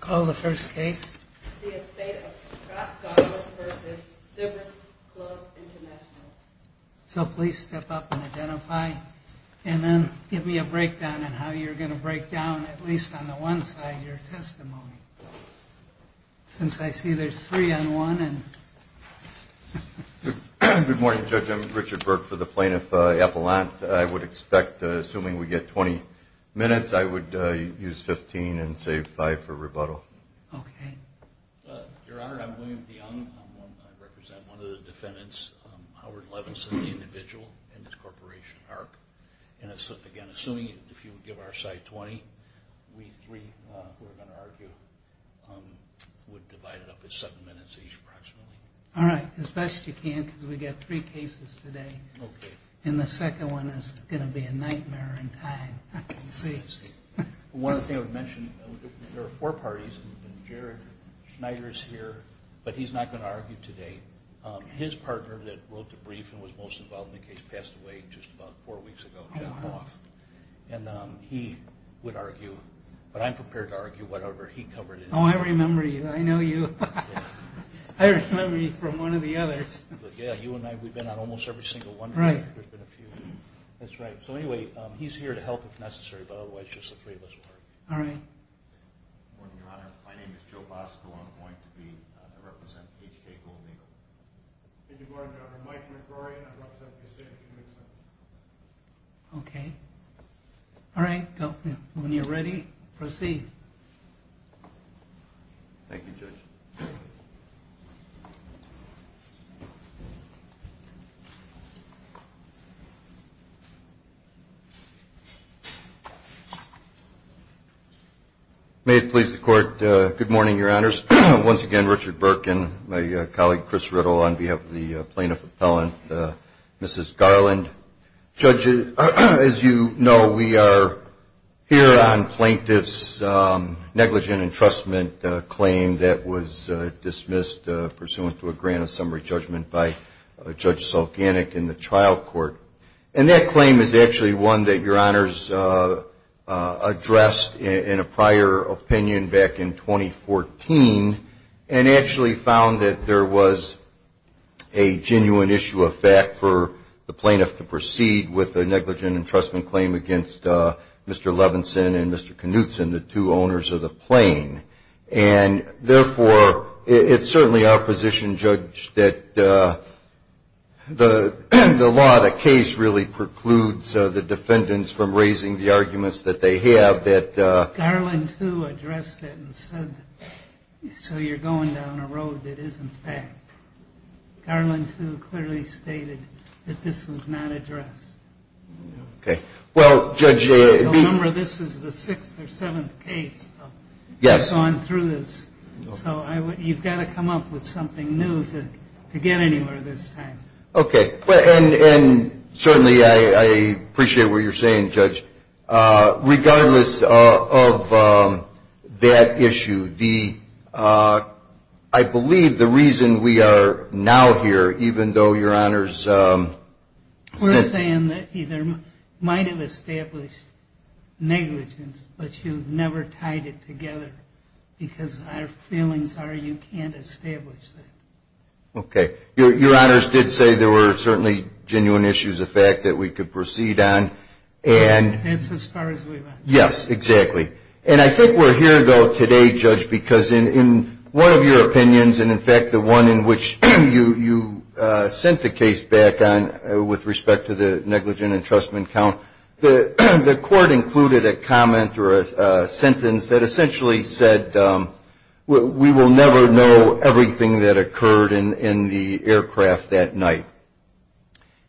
Call the first case. The estate of Scott Douglas v. Sybaris Clubs International. So please step up and identify and then give me a breakdown on how you're going to break down, at least on the one side, your testimony. Since I see there's three on one. Good morning, Judge. I'm Richard Burke for the Plaintiff Appellant. I would expect, assuming we get 20 minutes, I would use 15 and save 5 for rebuttal. Okay. Your Honor, I'm William DeYoung. I represent one of the defendants, Howard Levinson, the individual in this corporation, ARC. And again, assuming if you would give our side 20, we three, who are going to argue, would divide it up at 7 minutes each, approximately. All right, as best you can, because we've got three cases today. Okay. And the second one is going to be a nightmare in time, I can see. One thing I would mention, there are four parties, and Jared Schneider is here, but he's not going to argue today. His partner that wrote the brief and was most involved in the case passed away just about four weeks ago, Jeff Hoff. And he would argue, but I'm prepared to argue whatever he covered. Oh, I remember you. I know you. I remember you from one of the others. Yeah, you and I, we've been on almost every single one. Right. There's been a few. That's right. So anyway, he's here to help if necessary, but otherwise just the three of us will argue. All right. Your Honor, my name is Joe Bosco. I'm going to represent HK Gold Eagle. Good morning, Your Honor. Mike McGrory. I represent Cassandra Community Center. Okay. All right. When you're ready, proceed. Thank you, Judge. May it please the Court, good morning, Your Honors. Once again, Richard Burke and my colleague, Chris Riddle, on behalf of the plaintiff appellant, Mrs. Garland. Judge, as you know, we are here on plaintiff's negligent entrustment claim that was dismissed pursuant to a grant of summary judgment by Judge Sulkanik in the trial court. And that claim is actually one that Your Honors addressed in a prior opinion back in 2014 and actually found that there was a genuine issue of fact for the plaintiff to proceed with a negligent entrustment claim against Mr. Levinson and Mr. Knutson, the two owners of the plane. And, therefore, it's certainly our position, Judge, that the law of the case really precludes the defendants from raising the arguments that they have that the ---- Garland, too, addressed it and said, so you're going down a road that isn't fact. Garland, too, clearly stated that this was not addressed. Okay. Well, Judge ---- Remember, this is the sixth or seventh case of ---- Yes. So I'm through this. So you've got to come up with something new to get anywhere this time. Okay. And certainly I appreciate what you're saying, Judge. Regardless of that issue, I believe the reason we are now here, even though Your Honors ---- We're saying that either might have established negligence, but you've never tied it together because our feelings are you can't establish that. Okay. Your Honors did say there were certainly genuine issues of fact that we could proceed on and ---- That's as far as we went. Yes, exactly. And I think we're here, though, today, Judge, because in one of your opinions, and, in fact, the one in which you sent the case back on with respect to the negligent entrustment count, the Court included a comment or a sentence that essentially said, we will never know everything that occurred in the aircraft that night.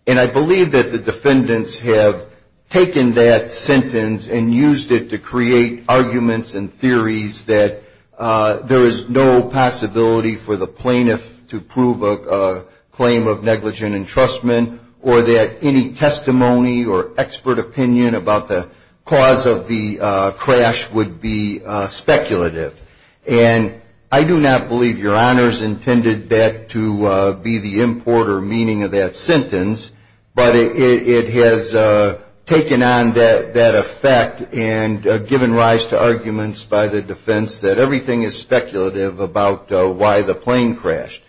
And I believe that the defendants have taken that sentence to create arguments and theories that there is no possibility for the plaintiff to prove a claim of negligent entrustment or that any testimony or expert opinion about the cause of the crash would be speculative. And I do not believe Your Honors intended that to be the import or meaning of that sentence, but it has taken on that effect and given rise to arguments by the defense that everything is speculative about why the plane crashed.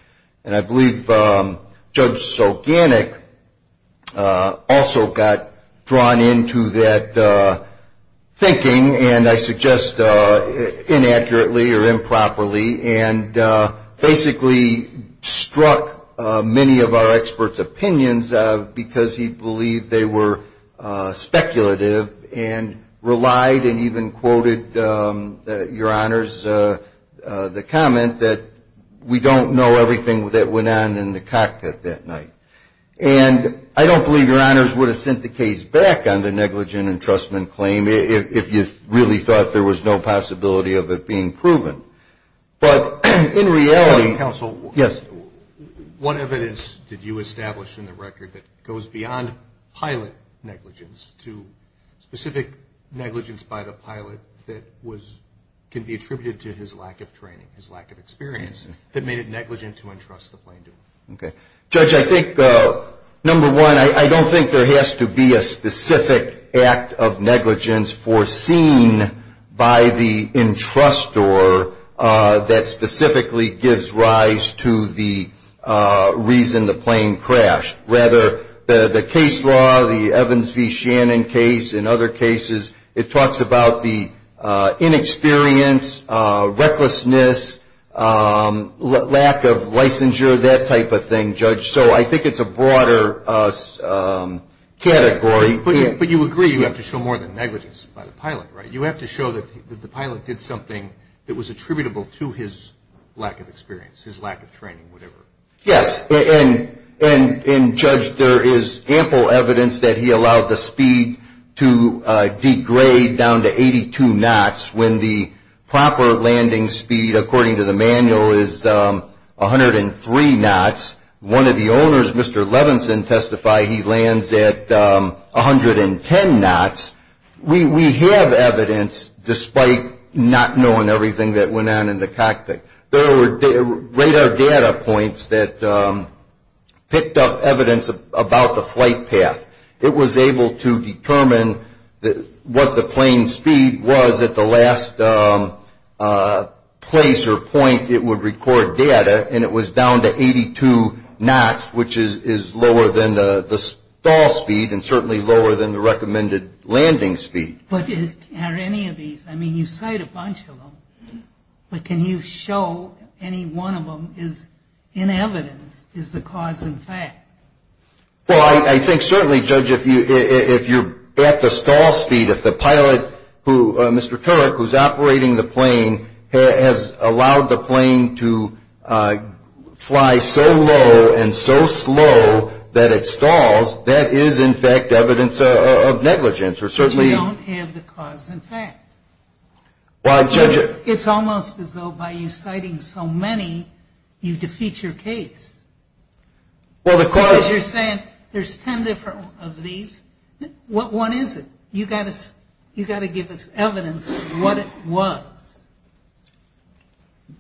And I believe Judge Soganic also got drawn into that thinking, and I suggest inaccurately or improperly, and basically struck many of our experts' opinions because he believed they were speculative and relied and even quoted Your Honors' comment that we don't know everything that went on in the cockpit that night. And I don't believe Your Honors would have sent the case back on the negligent entrustment claim if you really thought there was no possibility of it being proven. But in reality... Counsel, what evidence did you establish in the record that goes beyond pilot negligence to specific negligence by the pilot that can be attributed to his lack of training, his lack of experience, that made it negligent to entrust the plane to him? Judge, I think, number one, I don't think there has to be a specific act of negligence foreseen by the entrustor that specifically gives rise to the reason the plane crashed. Rather, the case law, the Evans v. Shannon case and other cases, it talks about the inexperience, recklessness, lack of licensure, that type of thing, Judge. So I think it's a broader category. But you agree you have to show more than negligence by the pilot, right? You have to show that the pilot did something that was attributable to his lack of experience, his lack of training, whatever. Yes, and Judge, there is ample evidence that he allowed the speed to degrade down to 82 knots when the proper landing speed, according to the manual, is 103 knots. One of the owners, Mr. Levinson, testified he lands at 110 knots. We have evidence, despite not knowing everything that went on in the cockpit. There were radar data points that picked up evidence about the flight path. It was able to determine what the plane's speed was at the last place or point it would record data, and it was down to 82 knots, which is lower than the stall speed and certainly lower than the recommended landing speed. But are any of these, I mean, you cite a bunch of them, but can you show any one of them is in evidence, is the cause in fact? Well, I think certainly, Judge, if you're at the stall speed, if the pilot, Mr. Turek, who's operating the plane has allowed the plane to fly so low and so slow that it stalls, that is, in fact, evidence of negligence. But you don't have the cause in fact. It's almost as though by you citing so many, you defeat your case. Because you're saying there's 10 different of these, what one is it? You've got to give us evidence of what it was.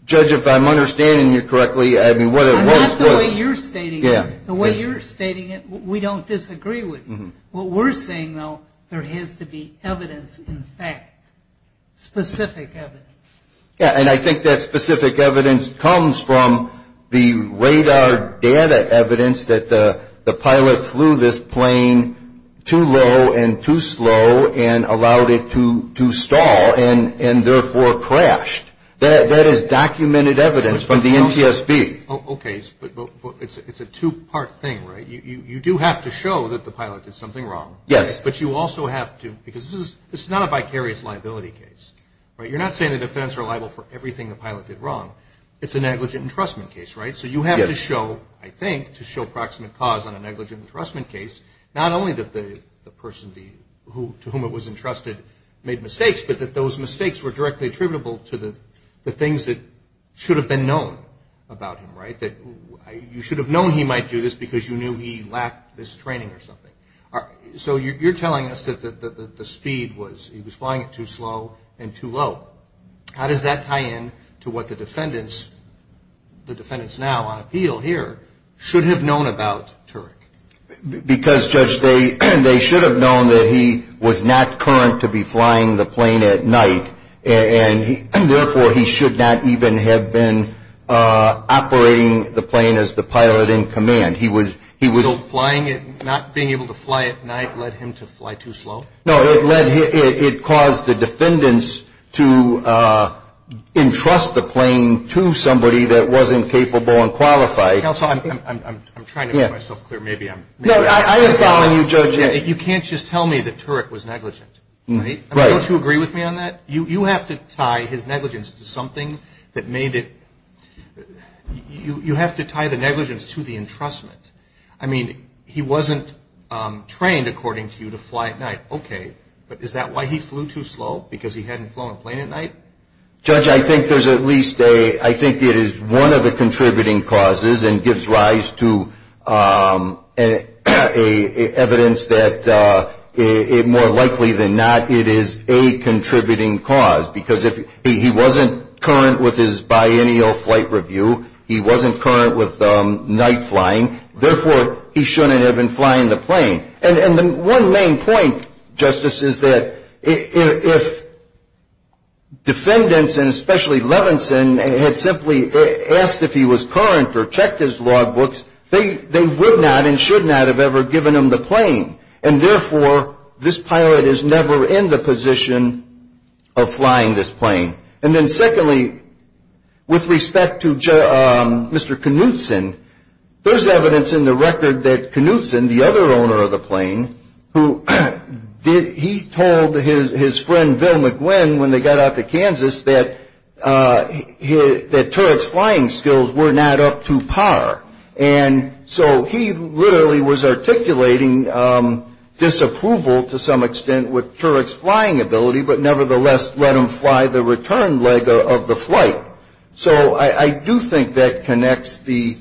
Judge, if I'm understanding you correctly, I mean, what it was... Not the way you're stating it. The way you're stating it, we don't disagree with you. What we're saying, though, there has to be evidence in fact, specific evidence. Yeah, and I think that specific evidence comes from the radar data evidence that the pilot flew this plane too low and too slow and allowed it to stall and therefore crashed. That is documented evidence from the NTSB. Okay, but it's a two-part thing, right? You do have to show that the pilot did something wrong. But you also have to, because this is not a vicarious liability case. You're not saying the defense are liable for everything the pilot did wrong. It's a negligent entrustment case, right? So you have to show, I think, to show proximate cause on a negligent entrustment case, not only that the person to whom it was entrusted made mistakes, but that those mistakes were directly attributable to the things that should have been known about him, right? You should have known he might do this because you knew he lacked this training or something. So you're telling us that the speed was, he was flying it too slow and too low. How does that tie in to what the defendants, the defendants now on appeal here, should have known about Turek? Because, Judge, they should have known that he was not current to be flying the plane at night and therefore he should not even have been operating the plane as the pilot in command. So not being able to fly at night led him to fly too slow? No, it caused the defendants to entrust the plane to somebody that wasn't capable and qualified. Counsel, I'm trying to make myself clear. No, I am following you, Judge. You can't just tell me that Turek was negligent, right? Right. Don't you agree with me on that? You have to tie his negligence to something that made it, you have to tie the negligence to the entrustment. I mean, he wasn't trained, according to you, to fly at night. Okay, but is that why he flew too slow? Because he hadn't flown a plane at night? Judge, I think there's at least a, I think it is one of the contributing causes and gives rise to evidence that more likely than not it is a contributing cause. Because if he wasn't current with his biennial flight review, he wasn't current with night flying, therefore he shouldn't have been flying the plane. And the one main point, Justice, is that if defendants, and especially Levinson, had simply asked if he was current or checked his logbooks, they would not and should not have ever given him the plane, and therefore this pilot is never in the position of flying this plane. And then secondly, with respect to Mr. Knutson, there's evidence in the record that Knutson, the other owner of the plane, he told his friend Bill McGuinn when they got out to Kansas that turret's flying skills were not up to par. And so he literally was articulating disapproval to some extent with turret's flying ability, but nevertheless let him fly the return leg of the flight. So I do think that connects the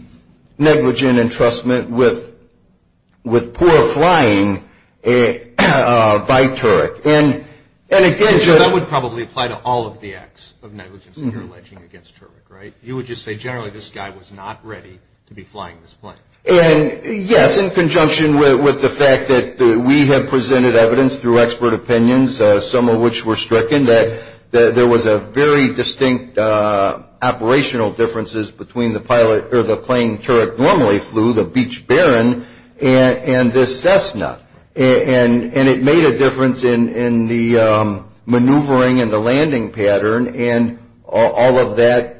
negligent entrustment with poor flying by turret. So that would probably apply to all of the acts of negligence that you're alleging against turret, right? You would just say generally this guy was not ready to be flying this plane. Yes, in conjunction with the fact that we have presented evidence through expert opinions, some of which were stricken, that there was very distinct operational differences between the plane turret normally flew, the Beach Baron, and this Cessna. And it made a difference in the maneuvering and the landing pattern, and all of that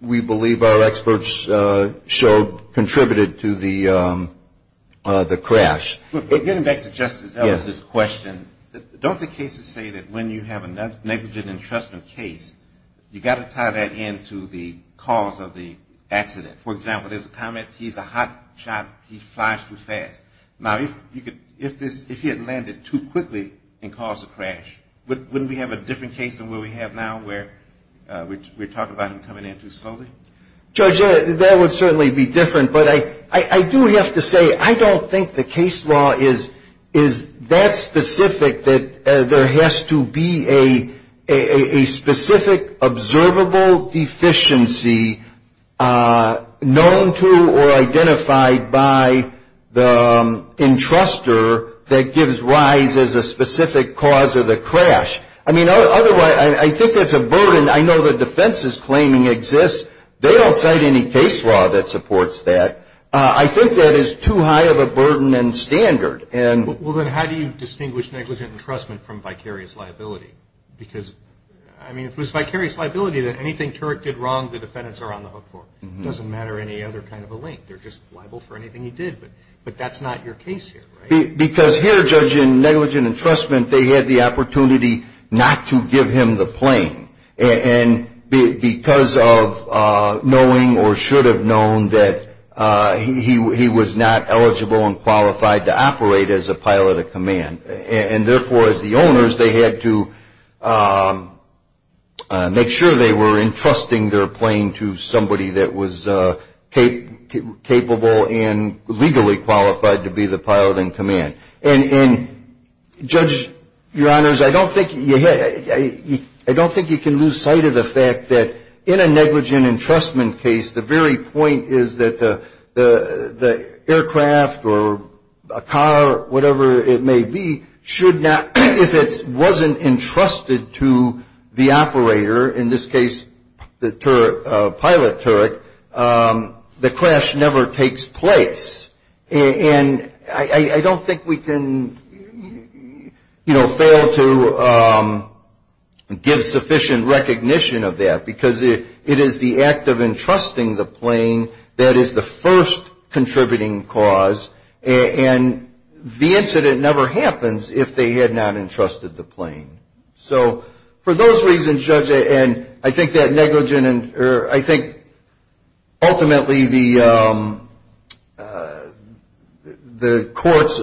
we believe our experts showed contributed to the crash. Getting back to Justice Ellis' question, don't the cases say that when you have a negligent entrustment case, you've got to tie that into the cause of the accident? For example, there's a comment, he's a hot shot, he flies too fast. Now, if he had landed too quickly and caused a crash, wouldn't we have a different case than where we have now where we're talking about him coming in too slowly? Judge, that would certainly be different. But I do have to say, I don't think the case law is that specific that there has to be a specific observable deficiency known to or identified by the entrustor that gives rise as a specific cause of the crash. I mean, otherwise, I think that's a burden. And I know the defense's claiming exists. They don't cite any case law that supports that. I think that is too high of a burden and standard. Well, then how do you distinguish negligent entrustment from vicarious liability? Because, I mean, if it was vicarious liability, then anything Turek did wrong, the defendants are on the hook for. It doesn't matter any other kind of a link. They're just liable for anything he did. But that's not your case here, right? Because here, judge, in negligent entrustment, they had the opportunity not to give him the plane. And because of knowing or should have known that he was not eligible and qualified to operate as a pilot of command. And therefore, as the owners, they had to make sure they were entrusting their plane to somebody that was capable and legally qualified to be the pilot in command. And, judge, your honors, I don't think you can lose sight of the fact that in a negligent entrustment case, the very point is that the aircraft or a car, whatever it may be, should not, if it wasn't entrusted to the operator, in this case the pilot Turek, the crash never takes place. And I don't think we can, you know, fail to give sufficient recognition of that. Because it is the act of entrusting the plane that is the first contributing cause. And the incident never happens if they had not entrusted the plane. So for those reasons, judge, and I think that negligent or I think ultimately the court's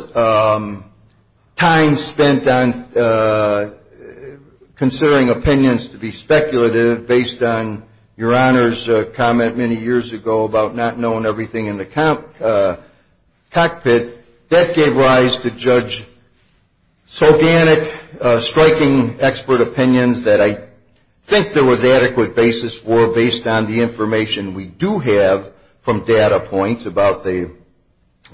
time spent on considering opinions to be speculative based on your honors' comment many years ago about not knowing everything in the cockpit, that gave rise to, judge, so organic, striking expert opinions that I think there was adequate basis for based on the information we do have from data points about the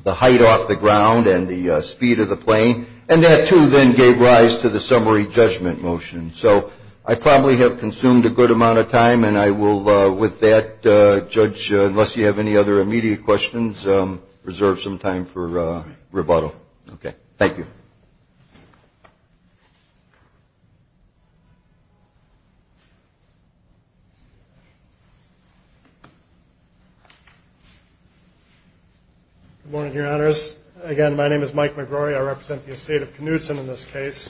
height off the ground and the speed of the plane. And that, too, then gave rise to the summary judgment motion. So I probably have consumed a good amount of time, and I will with that, judge, unless you have any other immediate questions, reserve some time for rebuttal. Okay. Thank you. Good morning, your honors. Again, my name is Mike McGrory. I represent the estate of Knutson in this case.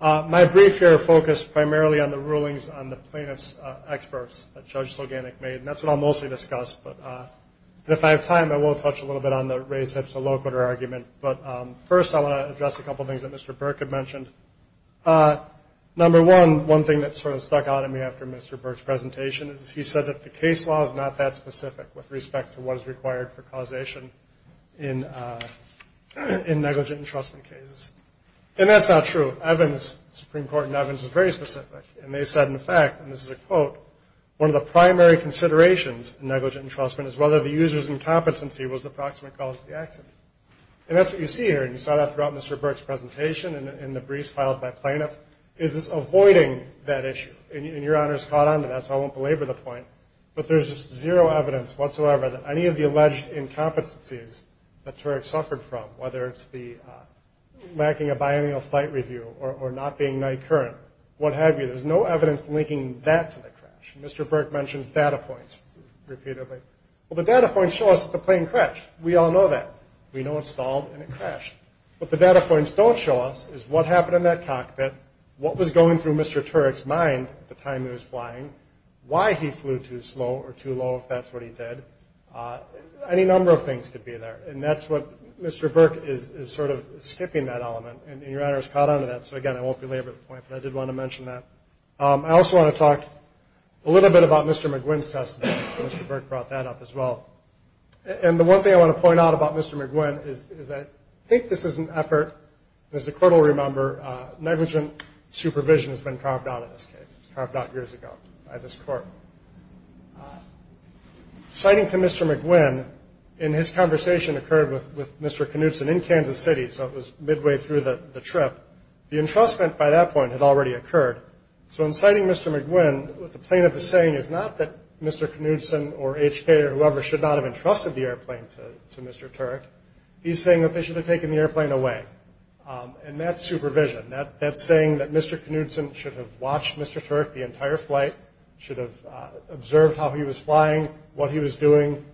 My brief here focused primarily on the rulings on the plaintiff's experts that Judge Sloganek made, and that's what I'll mostly discuss. But if I have time, I will touch a little bit on the race-hips-a-locator argument. But first, I want to address a couple of things that Mr. Burke had mentioned. Number one, one thing that sort of stuck out in me after Mr. Burke's presentation is he said that the case law is not that specific with respect to what is required for causation in negligent entrustment cases. And that's not true. Evans, the Supreme Court in Evans, was very specific. And they said, in fact, and this is a quote, one of the primary considerations in negligent entrustment is whether the user's incompetency was the approximate cause of the accident. And that's what you see here, and you saw that throughout Mr. Burke's presentation and in the briefs filed by plaintiffs, is this avoiding that issue. And your honors caught on to that, so I won't belabor the point, but there's just zero evidence whatsoever that any of the alleged incompetencies that Turek suffered from, whether it's lacking a biennial flight review or not being night current, what have you, there's no evidence linking that to the crash. Mr. Burke mentions data points repeatedly. Well, the data points show us that the plane crashed. We all know that. We know it stalled and it crashed. What the data points don't show us is what happened in that cockpit, what was going through Mr. Turek's mind at the time he was flying, why he flew too slow or too low if that's what he did. Any number of things could be there. And that's what Mr. Burke is sort of skipping that element, and your honors caught on to that. So, again, I won't belabor the point, but I did want to mention that. I also want to talk a little bit about Mr. McGuinn's testimony. Mr. Burke brought that up as well. And the one thing I want to point out about Mr. McGuinn is that I think this is an effort, as the Court will remember, negligent supervision has been carved out of this case, carved out years ago by this Court. Citing to Mr. McGuinn, and his conversation occurred with Mr. Knudson in Kansas City, so it was midway through the trip. The entrustment by that point had already occurred. So in citing Mr. McGuinn, what the plaintiff is saying is not that Mr. Knudson or H.K. or whoever should not have entrusted the airplane to Mr. Turek. He's saying that they should have taken the airplane away. And that's supervision. That's saying that Mr. Knudson should have watched Mr. Turek the entire flight, should have observed how he was flying, what he was doing,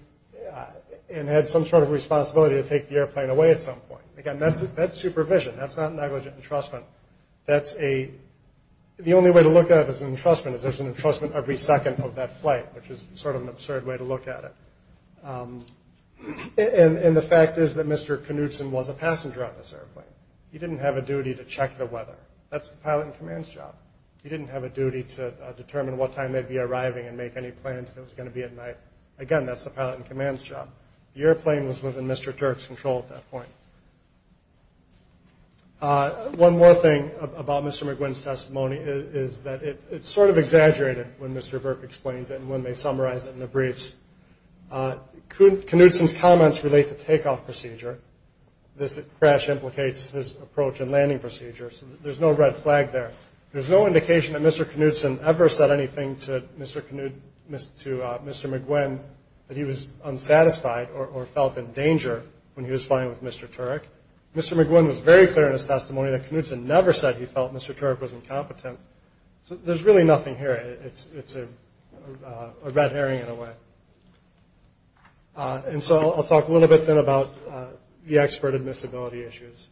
and had some sort of responsibility to take the airplane away at some point. Again, that's supervision. That's not negligent entrustment. The only way to look at it as an entrustment is there's an entrustment every second of that flight, which is sort of an absurd way to look at it. And the fact is that Mr. Knudson was a passenger on this airplane. He didn't have a duty to check the weather. That's the pilot in command's job. He didn't have a duty to determine what time they'd be arriving and make any plans if it was going to be at night. Again, that's the pilot in command's job. The airplane was within Mr. Turek's control at that point. One more thing about Mr. McGuinn's testimony is that it's sort of exaggerated when Mr. Burke explains it and when they summarize it in the briefs. Knudson's comments relate to takeoff procedure. This crash implicates his approach and landing procedures. There's no red flag there. There's no indication that Mr. Knudson ever said anything to Mr. McGuinn that he was unsatisfied or felt in danger when he was flying with Mr. Turek. Mr. McGuinn was very clear in his testimony that Knudson never said he felt Mr. Turek was incompetent. So there's really nothing here. It's a red herring in a way. And so I'll talk a little bit then about the expert admissibility issues.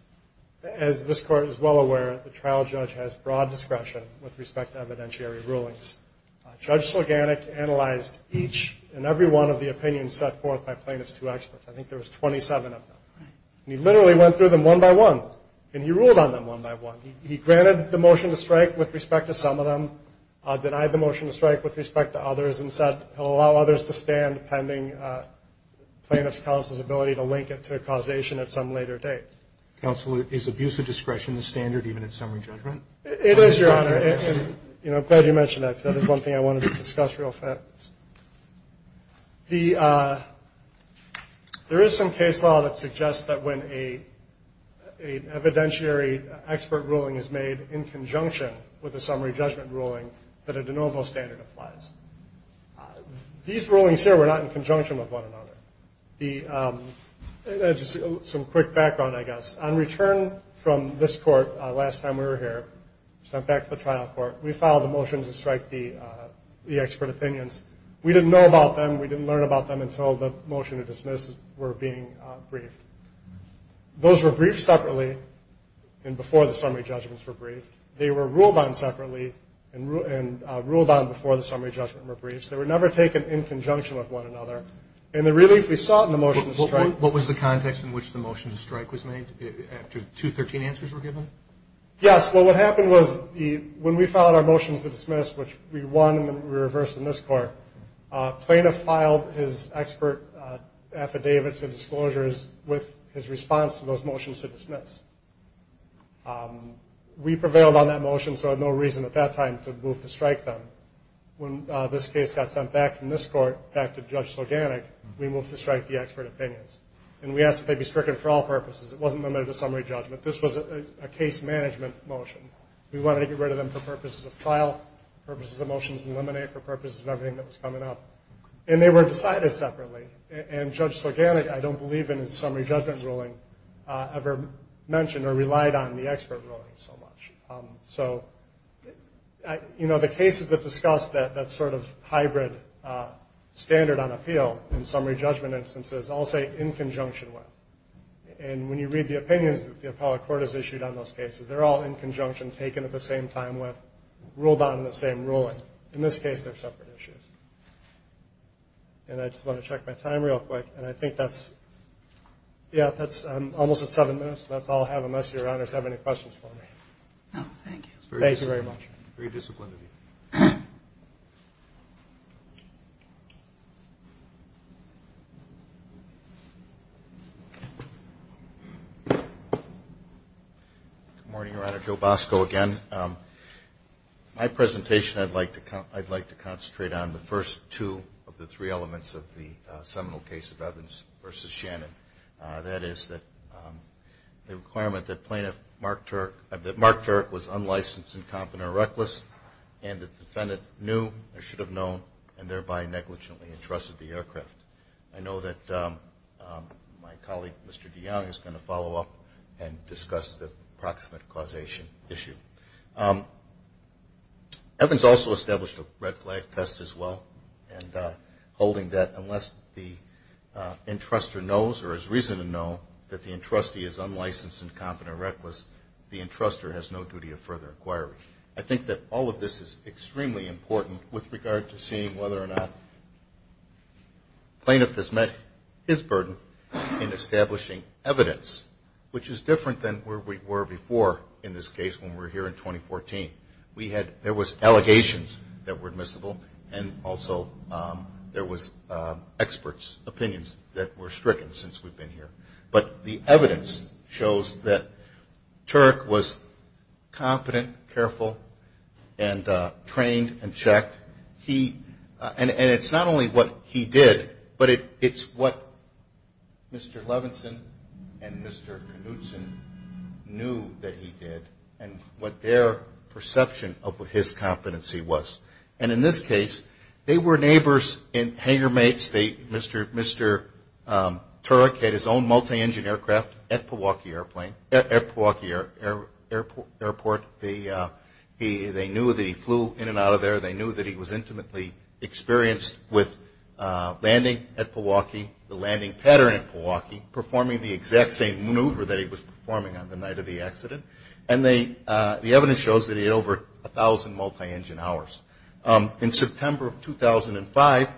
As this Court is well aware, the trial judge has broad discretion with respect to evidentiary rulings. Judge Sulganic analyzed each and every one of the opinions set forth by plaintiff's two experts. I think there was 27 of them. And he literally went through them one by one, and he ruled on them one by one. He granted the motion to strike with respect to some of them, denied the motion to strike with respect to others, and said he'll allow others to stand pending plaintiff's counsel's ability to link it to a causation at some later date. Counsel, is abuse of discretion a standard even in summary judgment? It is, Your Honor. And, you know, I'm glad you mentioned that because that is one thing I wanted to discuss real fast. There is some case law that suggests that when an evidentiary expert ruling is made in conjunction with a summary judgment ruling, that a de novo standard applies. These rulings here were not in conjunction with one another. Just some quick background, I guess. On return from this court last time we were here, sent back to the trial court, we filed a motion to strike the expert opinions. We didn't know about them. We didn't learn about them until the motion to dismiss were being briefed. Those were briefed separately and before the summary judgments were briefed. They were ruled on separately and ruled on before the summary judgment were briefed. They were never taken in conjunction with one another. And the relief we saw in the motion to strike. What was the context in which the motion to strike was made after 213 answers were given? Yes. Well, what happened was when we filed our motions to dismiss, which we won and we reversed in this court, plaintiff filed his expert affidavits and disclosures with his response to those motions to dismiss. We prevailed on that motion, so I had no reason at that time to move to strike them. When this case got sent back from this court, back to Judge Sloganick, we moved to strike the expert opinions. And we asked that they be stricken for all purposes. It wasn't limited to summary judgment. This was a case management motion. We wanted to get rid of them for purposes of trial, purposes of motions to eliminate, for purposes of everything that was coming up. And they were decided separately. And Judge Sloganick, I don't believe in his summary judgment ruling, ever mentioned or relied on the expert ruling so much. So, you know, the cases that discuss that sort of hybrid standard on appeal in summary judgment instances, I'll say in conjunction with. And when you read the opinions that the appellate court has issued on those cases, they're all in conjunction, taken at the same time with, ruled on in the same ruling. In this case, they're separate issues. And I just want to check my time real quick. And I think that's, yeah, that's almost at seven minutes. So that's all I have, unless Your Honors have any questions for me. No, thank you. Thank you very much. Very disciplined of you. Good morning, Your Honor. Joe Bosco again. My presentation, I'd like to concentrate on the first two of the three elements of the seminal case of Evans versus Shannon. That is the requirement that Mark Turk was unlicensed, incompetent, or reckless, and the defendant knew or should have known and thereby negligently entrusted the aircraft. I know that my colleague, Mr. DeYoung, is going to follow up and discuss the proximate causation issue. Evans also established a red flag test as well, and holding that unless the entrustor knows or has reason to know that the entrustee is unlicensed, incompetent, or reckless, the entrustor has no duty of further inquiry. I think that all of this is extremely important with regard to seeing whether or not plaintiff has met his burden in establishing evidence, which is different than where we were before in this case when we were here in 2014. There was allegations that were admissible, and also there was experts' opinions that were stricken since we've been here. But the evidence shows that Turk was competent, careful, and trained and checked. And it's not only what he did, but it's what Mr. Levinson and Mr. Knutson knew that he did, and what their perception of his competency was. And in this case, they were neighbors and hangermates. Mr. Turk had his own multi-engine aircraft at Milwaukee Airport. They knew that he flew in and out of there. They knew that he was intimately experienced with landing at Milwaukee, the landing pattern at Milwaukee, performing the exact same maneuver that he was performing on the night of the accident. And the evidence shows that he had over 1,000 multi-engine hours. In September of 2005,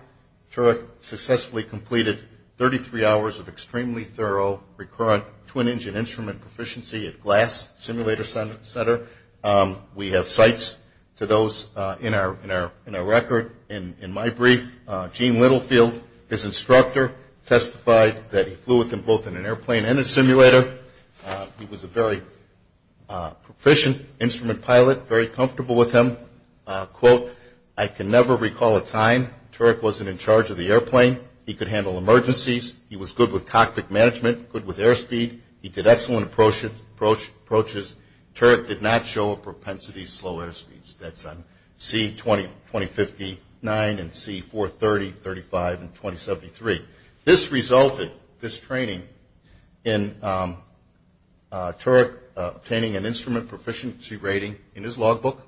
Turk successfully completed 33 hours of extremely thorough, recurrent twin-engine instrument proficiency at Glass Simulator Center. We have sites to those in our record. In my brief, Gene Littlefield, his instructor, testified that he flew with him both in an airplane and a simulator. He was a very proficient instrument pilot, very comfortable with him. Quote, I can never recall a time Turk wasn't in charge of the airplane. He could handle emergencies. He was good with cockpit management, good with airspeed. He did excellent approaches. Turk did not show a propensity to slow airspeeds. That's on C-20, 2059, and C-430, 35, and 2073. This resulted, this training, in Turk obtaining an instrument proficiency rating in his logbook,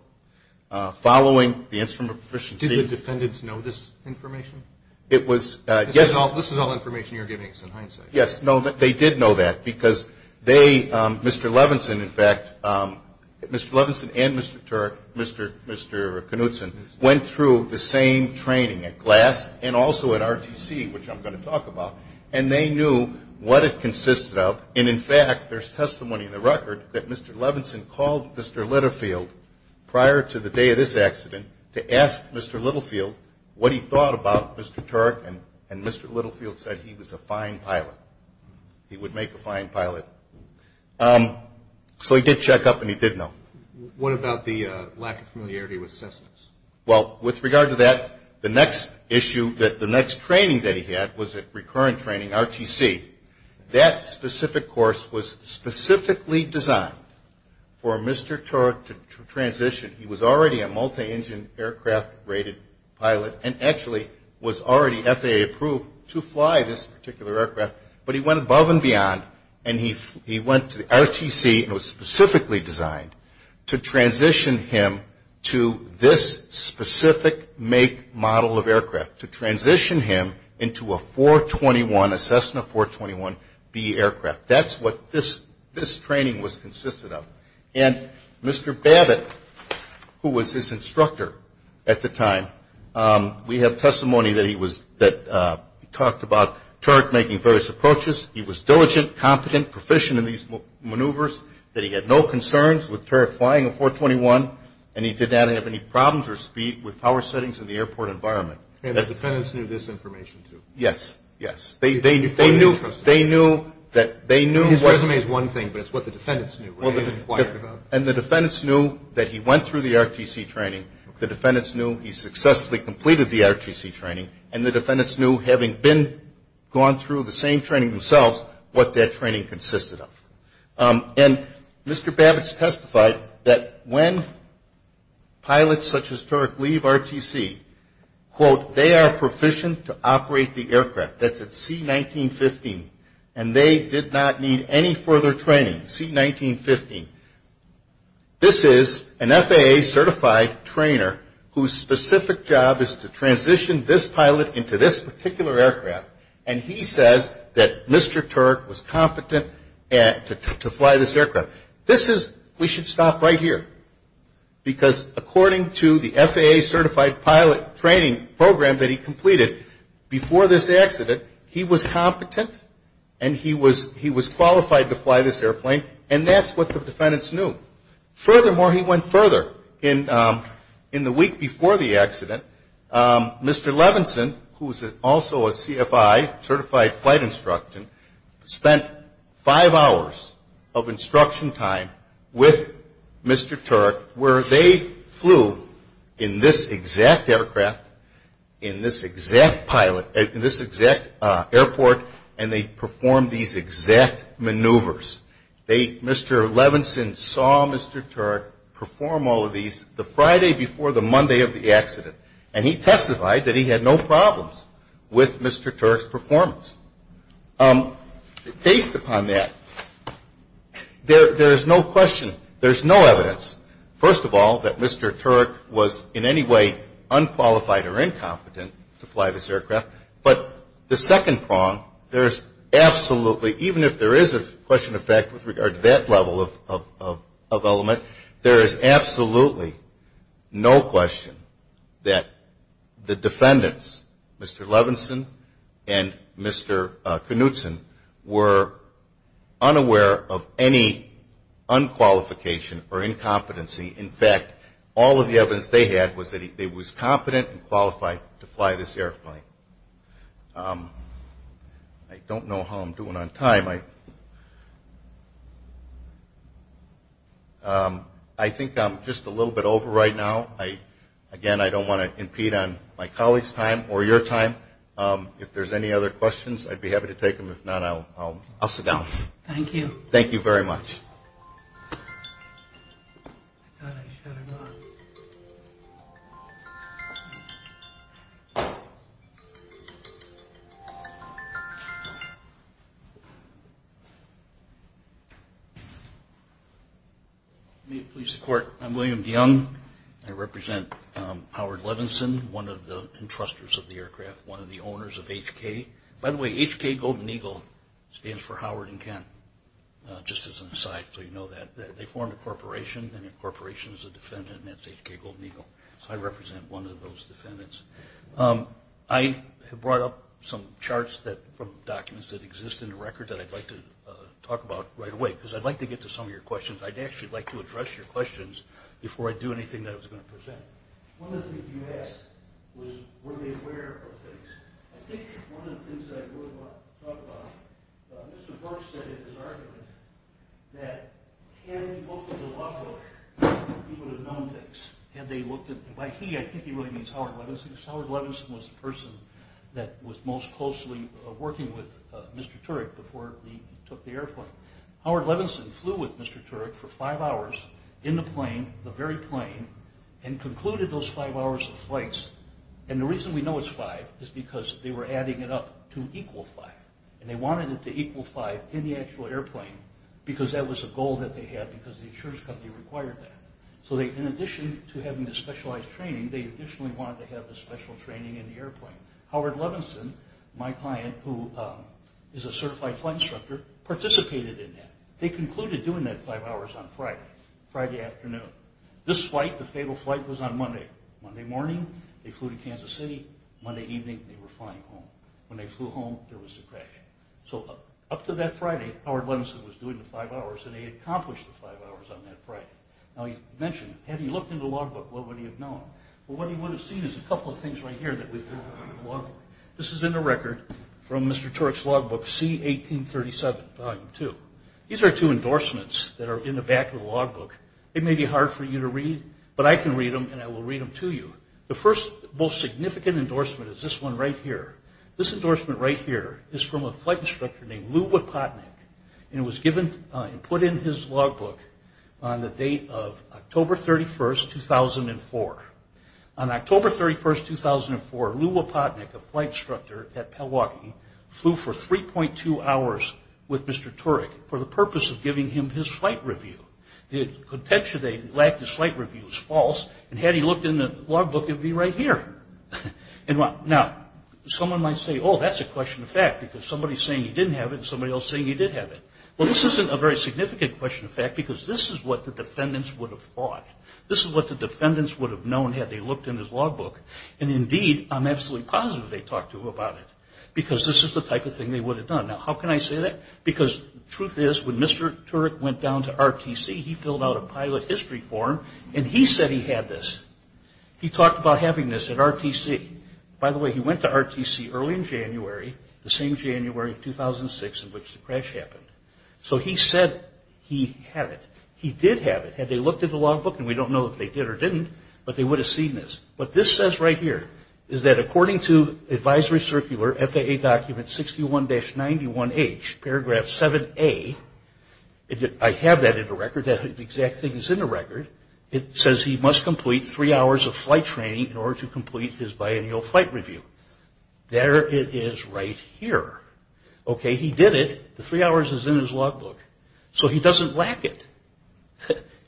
following the instrument proficiency. Did the defendants know this information? It was, yes. This is all information you're giving us in hindsight. Yes. No, they did know that because they, Mr. Levinson, in fact, Mr. Levinson and Mr. Turk, Mr. Knutson, went through the same training at GLAS and also at RTC, which I'm going to talk about, and they knew what it consisted of. And, in fact, there's testimony in the record that Mr. Levinson called Mr. Littlefield prior to the day of this accident to ask Mr. Littlefield what he thought about Mr. Turk, and Mr. Littlefield said he was a fine pilot. He would make a fine pilot. So he did check up and he did know. What about the lack of familiarity with systems? Well, with regard to that, the next issue, the next training that he had was at recurrent training, RTC. That specific course was specifically designed for Mr. Turk to transition. He was already a multi-engine aircraft rated pilot and actually was already FAA approved to fly this particular aircraft, but he went above and beyond and he went to RTC and was specifically designed to transition him to this specific make, model of aircraft, to transition him into a 421, a Cessna 421B aircraft. That's what this training was consisted of. And Mr. Babbitt, who was his instructor at the time, we have testimony that he talked about Turk making various approaches. He was diligent, competent, proficient in these maneuvers, that he had no concerns with Turk flying a 421, and he did not have any problems or speed with power settings in the airport environment. And the defendants knew this information, too? Yes, yes. They knew that they knew... His resume is one thing, but it's what the defendants knew. And the defendants knew that he went through the RTC training. The defendants knew he successfully completed the RTC training, and the defendants knew, having gone through the same training themselves, what that training consisted of. And Mr. Babbitt has testified that when pilots such as Turk leave RTC, quote, they are proficient to operate the aircraft. That's at C1915. And they did not need any further training, C1915. This is an FAA-certified trainer whose specific job is to transition this pilot into this particular aircraft, and he says that Mr. Turk was competent to fly this aircraft. This is, we should stop right here, because according to the FAA-certified pilot training program that he completed before this accident, he was competent and he was qualified to fly this airplane, and that's what the defendants knew. Furthermore, he went further. In the week before the accident, Mr. Levinson, who is also a CFI, certified flight instructor, spent five hours of instruction time with Mr. Turk, where they flew in this exact aircraft, in this exact pilot, in this exact airport, and they performed these exact maneuvers. They, Mr. Levinson saw Mr. Turk perform all of these the Friday before the Monday of the accident, and he testified that he had no problems with Mr. Turk's performance. Based upon that, there is no question, there is no evidence, first of all, that Mr. Turk was in any way unqualified or incompetent to fly this aircraft, but the second prong, there is absolutely, even if there is a question of fact with regard to that level of element, there is absolutely no question that the defendants, Mr. Levinson and Mr. Knutson, were unaware of any unqualification or incompetency. In fact, all of the evidence they had was that he was competent and qualified to fly this airplane. I don't know how I'm doing on time. I think I'm just a little bit over right now. Again, I don't want to impede on my colleagues' time or your time. If there's any other questions, I'd be happy to take them. If not, I'll sit down. Thank you. Thank you very much. May it please the Court, I'm William DeYoung. I represent Howard Levinson, one of the entrustors of the aircraft, one of the owners of HK. By the way, HK Golden Eagle stands for Howard and Kent, just as an aside so you know that. They formed a corporation, and their corporation is a defendant, and that's HK Golden Eagle. So I represent one of those defendants. I have brought up some charts from documents that exist in the record that I'd like to talk about right away, because I'd like to get to some of your questions. I'd actually like to address your questions before I do anything that I was going to present. One of the things you asked was were they aware of things. I think one of the things I thought about, Mr. Burke said in his argument, that had he looked at the law book, he would have known things. By he, I think he really means Howard Levinson. Howard Levinson was the person that was most closely working with Mr. Turek before he took the airplane. Howard Levinson flew with Mr. Turek for five hours in the plane, the very plane, and concluded those five hours of flights. And the reason we know it's five is because they were adding it up to equal five. And they wanted it to equal five in the actual airplane, because that was a goal that they had because the insurance company required that. So in addition to having the specialized training, they additionally wanted to have the special training in the airplane. Howard Levinson, my client, who is a certified flight instructor, participated in that. They concluded doing that five hours on Friday, Friday afternoon. This flight, the fatal flight, was on Monday. Monday morning, they flew to Kansas City. Monday evening, they were flying home. When they flew home, there was the crash. So up to that Friday, Howard Levinson was doing the five hours, and he had accomplished the five hours on that Friday. Now, he mentioned, had he looked in the law book, what would he have known? Well, what he would have seen is a couple of things right here that we've learned from the law book. This is in the record from Mr. Turek's law book, C1837, Volume 2. These are two endorsements that are in the back of the law book. It may be hard for you to read, but I can read them, and I will read them to you. The first most significant endorsement is this one right here. This endorsement right here is from a flight instructor named Lew Wipotnick, and it was given and put in his law book on the date of October 31, 2004. On October 31, 2004, Lew Wipotnick, a flight instructor at Pell Walkie, flew for 3.2 hours with Mr. Turek for the purpose of giving him his flight review. The contention that he lacked his flight review is false, and had he looked in the law book, it would be right here. Now, someone might say, oh, that's a question of fact, because somebody is saying he didn't have it, and somebody else is saying he did have it. Well, this isn't a very significant question of fact, because this is what the defendants would have thought. This is what the defendants would have known had they looked in his law book, and indeed, I'm absolutely positive they talked to him about it, because this is the type of thing they would have done. Now, how can I say that? Because the truth is, when Mr. Turek went down to RTC, he filled out a pilot history form, and he said he had this. He talked about having this at RTC. By the way, he went to RTC early in January, the same January of 2006 in which the crash happened. So he said he had it. He did have it. Had they looked at the law book, and we don't know if they did or didn't, but they would have seen this. What this says right here is that according to Advisory Circular, FAA Document 61-91H, Paragraph 7A, I have that in the record. That exact thing is in the record. It says he must complete three hours of flight training in order to complete his biannual flight review. There it is right here. Okay, he did it. The three hours is in his law book. So he doesn't lack it.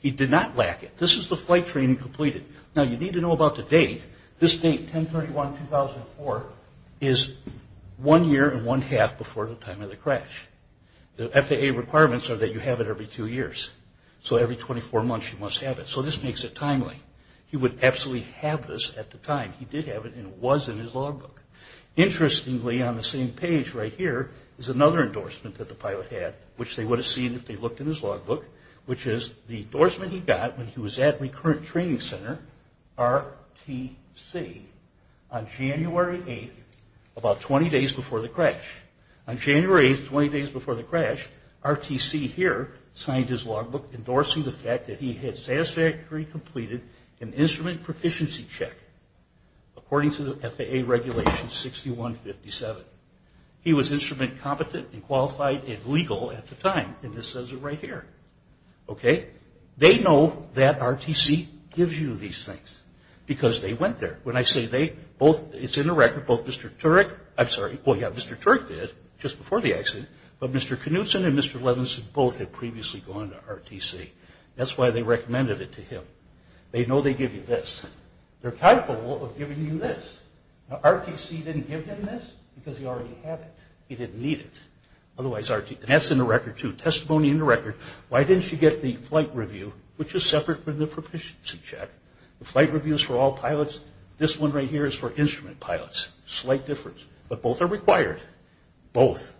He did not lack it. This is the flight training completed. Now, you need to know about the date. This date, 10-31-2004, is one year and one half before the time of the crash. The FAA requirements are that you have it every two years. So every 24 months you must have it. So this makes it timely. He would absolutely have this at the time. He did have it, and it was in his law book. Interestingly, on the same page right here is another endorsement that the pilot had, which they would have seen if they looked in his law book, which is the endorsement he got when he was at Recurrent Training Center, RTC, on January 8th, about 20 days before the crash. On January 8th, 20 days before the crash, RTC here signed his law book endorsing the fact that he had satisfactorily completed an instrument proficiency check, according to the FAA regulation 6157. He was instrument competent and qualified and legal at the time, and this says it right here. Okay? They know that RTC gives you these things, because they went there. When I say they, both, it's in the record, both Mr. Turek, I'm sorry, oh yeah, Mr. Turek did, just before the accident, but Mr. Knutson and Mr. Levinson both had previously gone to RTC. That's why they recommended it to him. They know they give you this. They're thankful of giving you this. Now, RTC didn't give him this because he already had it. He didn't need it. That's in the record, too. Testimony in the record. Why didn't you get the flight review, which is separate from the proficiency check? The flight review is for all pilots. This one right here is for instrument pilots, slight difference. But both are required. Both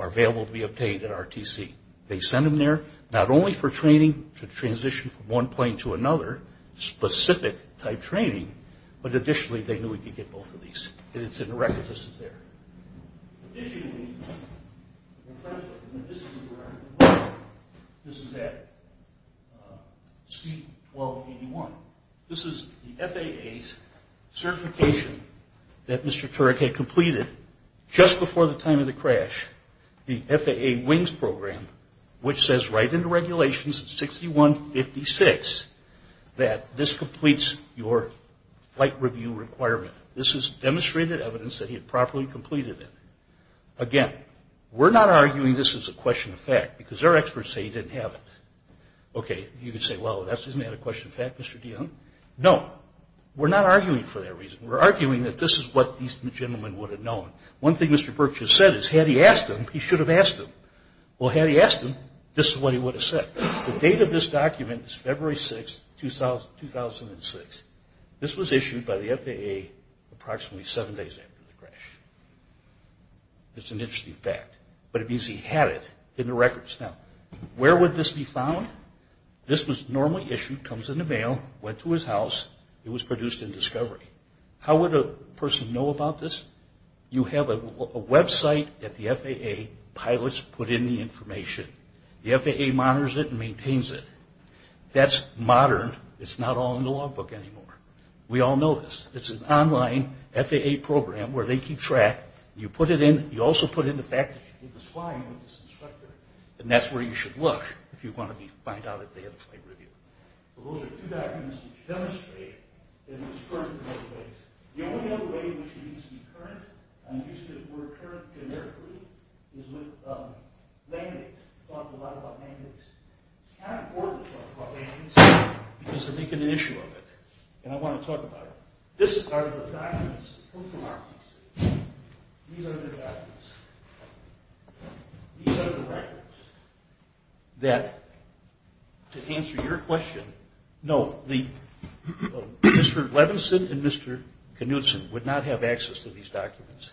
are available to be obtained at RTC. They send them there not only for training to transition from one plane to another, specific type training, but additionally they knew he could get both of these. It's in the record. This is there. Additionally, this is at C-1281. This is the FAA's certification that Mr. Turek had completed just before the time of the crash, the FAA WINGS program, which says right in the regulations, 61-56, that this completes your flight review requirement. This is demonstrated evidence that he had properly completed it. Again, we're not arguing this is a question of fact because our experts say he didn't have it. Okay, you could say, well, isn't that a question of fact, Mr. DeYoung? No. We're not arguing for that reason. We're arguing that this is what these gentlemen would have known. One thing Mr. Berkshire said is had he asked him, he should have asked him. Well, had he asked him, this is what he would have said. The date of this document is February 6, 2006. This was issued by the FAA approximately seven days after the crash. It's an interesting fact, but it means he had it in the records. Now, where would this be found? This was normally issued, comes in the mail, went to his house. It was produced in Discovery. How would a person know about this? You have a website that the FAA pilots put in the information. The FAA monitors it and maintains it. That's modern. It's not all in the logbook anymore. We all know this. It's an online FAA program where they keep track. You also put in the fact that it was flying with this instructor, and that's where you should look if you want to find out if they had a flight review. Well, those are two documents that demonstrate that it was currently in place. The only other way in which it needs to be current, and used as the word current generically, is with language. We talk a lot about language. It's kind of important to talk about language because they're making an issue of it, and I want to talk about it. These are the documents that come from Arkansas. These are their documents. These are the records that, to answer your question, no, Mr. Levinson and Mr. Knutson would not have access to these documents,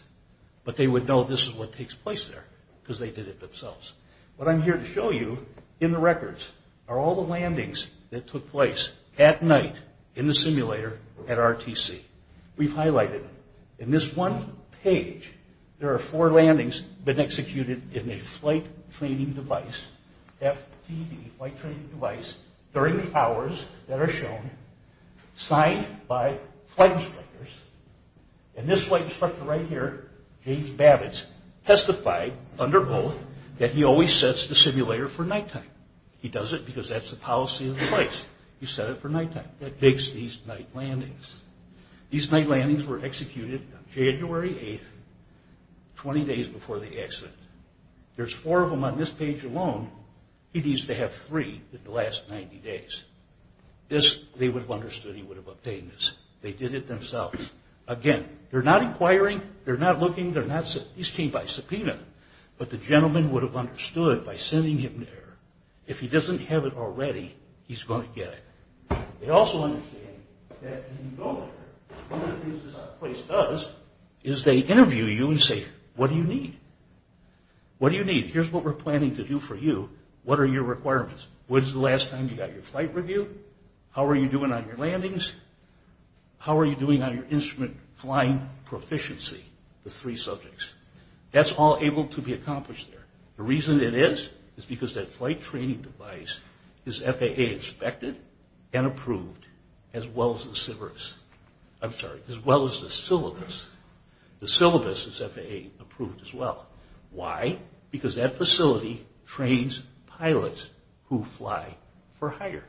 but they would know this is what takes place there because they did it themselves. What I'm here to show you in the records are all the landings that took place at night in the simulator at RTC. We've highlighted them. In this one page, there are four landings that executed in a flight training device, FTV, flight training device, during the hours that are shown, signed by flight instructors, and this flight instructor right here, James Babbitt, testified under oath that he always sets the simulator for nighttime. He does it because that's the policy of the place. He set it for nighttime. That makes these night landings. These night landings were executed on January 8th, 20 days before the accident. There's four of them on this page alone. He needs to have three in the last 90 days. They would have understood he would have obtained this. They did it themselves. Again, they're not inquiring. They're not looking. These came by subpoena, but the gentleman would have understood by sending him there. If he doesn't have it already, he's going to get it. They also understand that when you go there, one of the things this place does is they interview you and say, what do you need? What do you need? Here's what we're planning to do for you. What are your requirements? When's the last time you got your flight review? How are you doing on your landings? How are you doing on your instrument flying proficiency, the three subjects? That's all able to be accomplished there. The reason it is is because that flight training device is FAA inspected and approved as well as the syllabus. The syllabus is FAA approved as well. Why? Because that facility trains pilots who fly for hire,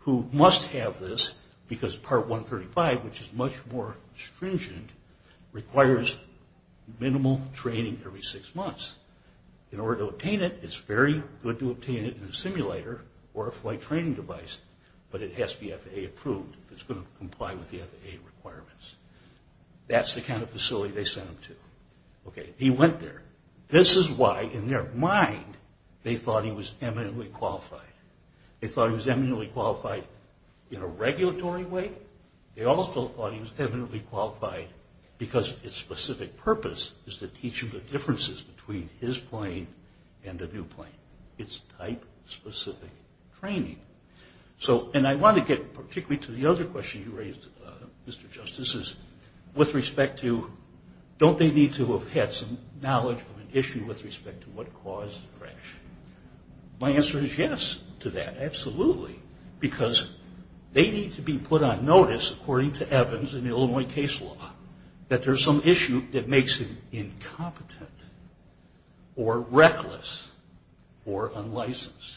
who must have this because Part 135, which is much more stringent, requires minimal training every six months. In order to obtain it, it's very good to obtain it in a simulator or a flight training device, but it has to be FAA approved. It's going to comply with the FAA requirements. That's the kind of facility they sent him to. He went there. This is why, in their mind, they thought he was eminently qualified. They thought he was eminently qualified in a regulatory way. They also thought he was eminently qualified because its specific purpose is to teach him the differences between his plane and the new plane. It's type-specific training. And I want to get particularly to the other question you raised, Mr. Justice, with respect to don't they need to have had some knowledge of an issue with respect to what caused the crash? My answer is yes to that, absolutely, because they need to be put on notice, according to Evans in the Illinois case law, that there's some issue that makes them incompetent or reckless or unlicensed.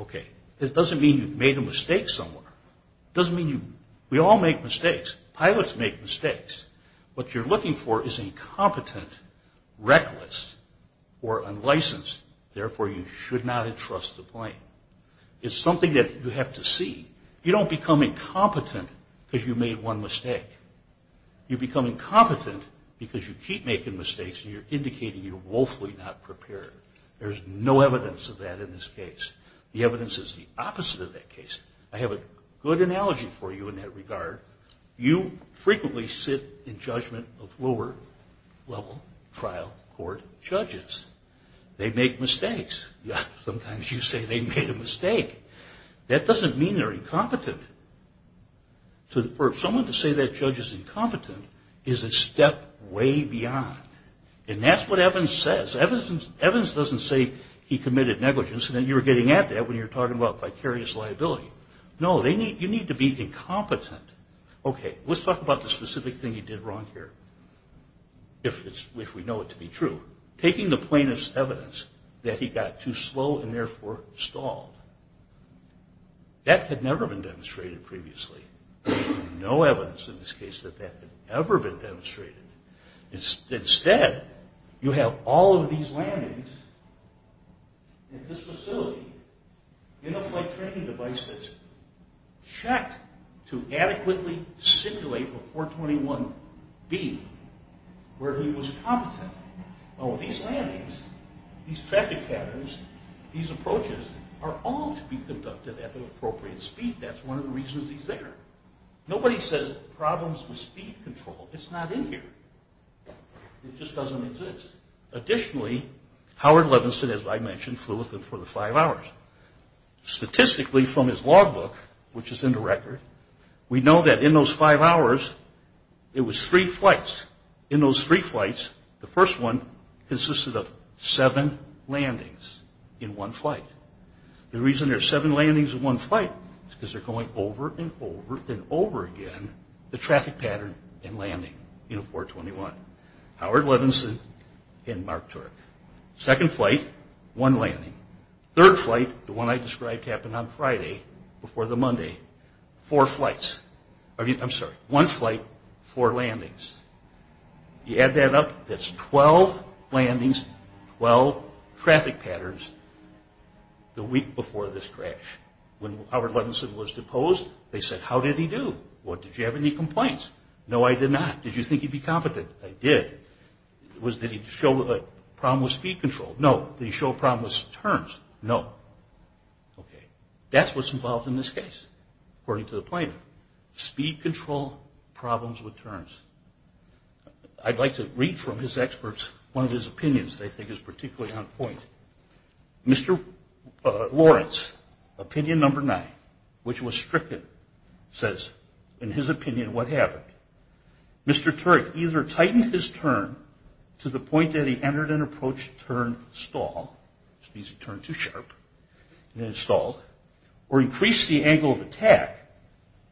Okay. It doesn't mean you've made a mistake somewhere. It doesn't mean you... We all make mistakes. Pilots make mistakes. What you're looking for is incompetent, reckless, or unlicensed. Therefore, you should not entrust the plane. It's something that you have to see. You don't become incompetent because you made one mistake. You become incompetent because you keep making mistakes and you're indicating you're woefully not prepared. There's no evidence of that in this case. The evidence is the opposite of that case. I have a good analogy for you in that regard. You frequently sit in judgment of lower-level trial court judges. They make mistakes. Yeah, sometimes you say they made a mistake. That doesn't mean they're incompetent. For someone to say that judge is incompetent is a step way beyond, and that's what Evans says. Evans doesn't say he committed negligence, and you were getting at that when you were talking about vicarious liability. No, you need to be incompetent. Okay, let's talk about the specific thing he did wrong here, if we know it to be true. Taking the plaintiff's evidence that he got too slow and therefore stalled. That had never been demonstrated previously. No evidence in this case that that had ever been demonstrated. Instead, you have all of these landings at this facility in a flight training device that's checked to adequately simulate a 421B where he was competent. Now, these landings, these traffic patterns, these approaches are all to be conducted at the appropriate speed. That's one of the reasons he's there. Nobody says problems with speed control. It's not in here. It just doesn't exist. Additionally, Howard Levinson, as I mentioned, flew with him for the five hours. Statistically, from his logbook, which is in the record, we know that in those five hours, it was three flights. In those three flights, the first one consisted of seven landings in one flight. The reason there's seven landings in one flight is because they're going over and over and over again, the traffic pattern and landing in a 421. Howard Levinson and Mark Turk. Second flight, one landing. Third flight, the one I described happened on Friday before the Monday. Four flights. I'm sorry, one flight, four landings. You add that up, that's 12 landings, 12 traffic patterns the week before this crash. When Howard Levinson was deposed, they said, how did he do? Did you have any complaints? No, I did not. Did you think he'd be competent? I did. Did he show a problem with speed control? No. Did he show a problem with turns? No. Okay. That's what's involved in this case, according to the plaintiff. Speed control, problems with turns. I'd like to read from his experts one of his opinions they think is particularly on point. Mr. Lawrence, opinion number nine, which was stricken, says, in his opinion, what happened? Mr. Turk either tightened his turn to the point that he entered an approach turn stall, which means he turned too sharp, and then stalled, or increased the angle of attack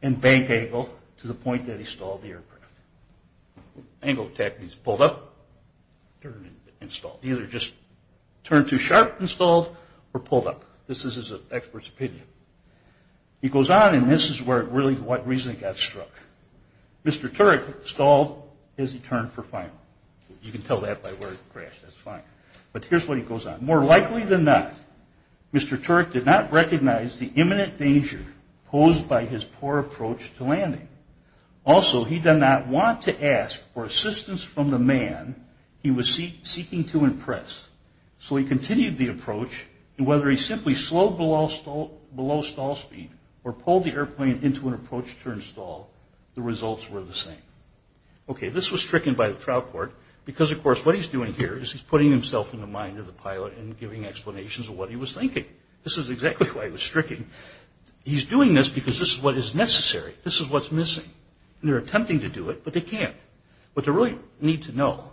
and bank angle to the point that he stalled the aircraft. Angle of attack means pulled up, turned, and stalled. Either just turned too sharp, and stalled, or pulled up. This is his expert's opinion. He goes on, and this is really what got struck. Mr. Turk stalled his turn for final. You can tell that by where it crashed. That's fine. But here's what he goes on. More likely than not, Mr. Turk did not recognize the imminent danger posed by his poor approach to landing. Also, he did not want to ask for assistance from the man he was seeking to impress. So he continued the approach, and whether he simply slowed below stall speed or pulled the airplane into an approach turn stall, the results were the same. This was stricken by the trial court because, of course, what he's doing here is he's putting himself in the mind of the pilot and giving explanations of what he was thinking. This is exactly why he was stricken. He's doing this because this is what is necessary. This is what's missing. They're attempting to do it, but they can't. What they really need to know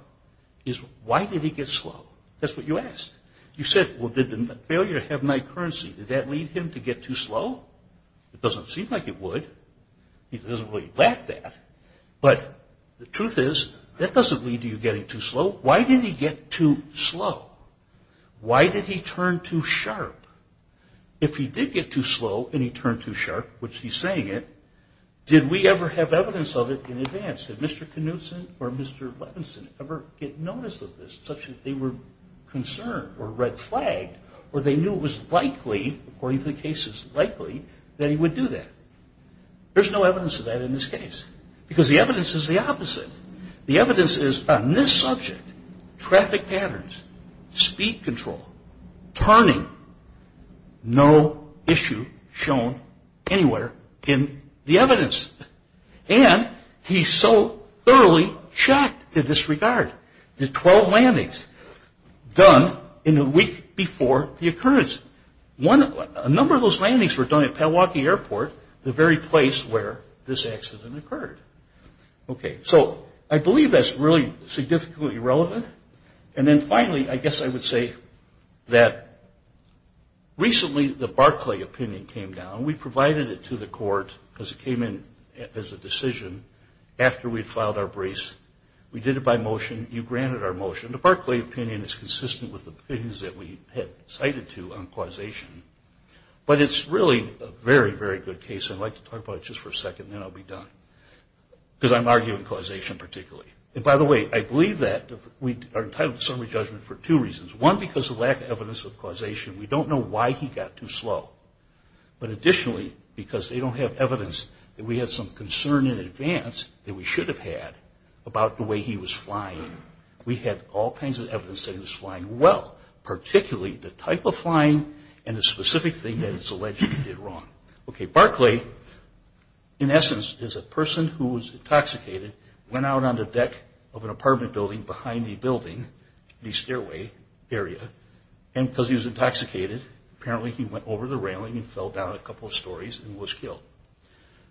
is why did he get slow. That's what you asked. You said, well, did the failure to have night currency, did that lead him to get too slow? It doesn't seem like it would. He doesn't really lack that. But the truth is that doesn't lead to you getting too slow. Why did he get too slow? Why did he turn too sharp? If he did get too slow and he turned too sharp, which he's saying it, did we ever have evidence of it in advance? Did Mr. Knudsen or Mr. Levinson ever get notice of this, such that they were concerned or red flagged or they knew it was likely, according to the cases, likely that he would do that? There's no evidence of that in this case because the evidence is the opposite. The evidence is on this subject, traffic patterns, speed control, turning, and he's so thoroughly shocked in this regard. The 12 landings done in the week before the occurrence. A number of those landings were done at Milwaukee Airport, the very place where this accident occurred. Okay, so I believe that's really significantly irrelevant. And then finally, I guess I would say that recently the Barclay opinion came down. We provided it to the court as it came in as a decision after we'd filed our brace. We did it by motion. You granted our motion. The Barclay opinion is consistent with the opinions that we had cited to on causation. But it's really a very, very good case. I'd like to talk about it just for a second, then I'll be done. Because I'm arguing causation particularly. And by the way, I believe that we are entitled to summary judgment for two reasons. One, because of lack of evidence of causation. We don't know why he got too slow. But additionally, because they don't have evidence that we had some concern in advance that we should have had about the way he was flying. We had all kinds of evidence that he was flying well, particularly the type of flying and the specific thing that it's alleged he did wrong. Okay, Barclay, in essence, is a person who was intoxicated, went out on the deck of an apartment building behind the building, the stairway area. And because he was intoxicated, apparently he went over the railing and fell down a couple of stories and was killed.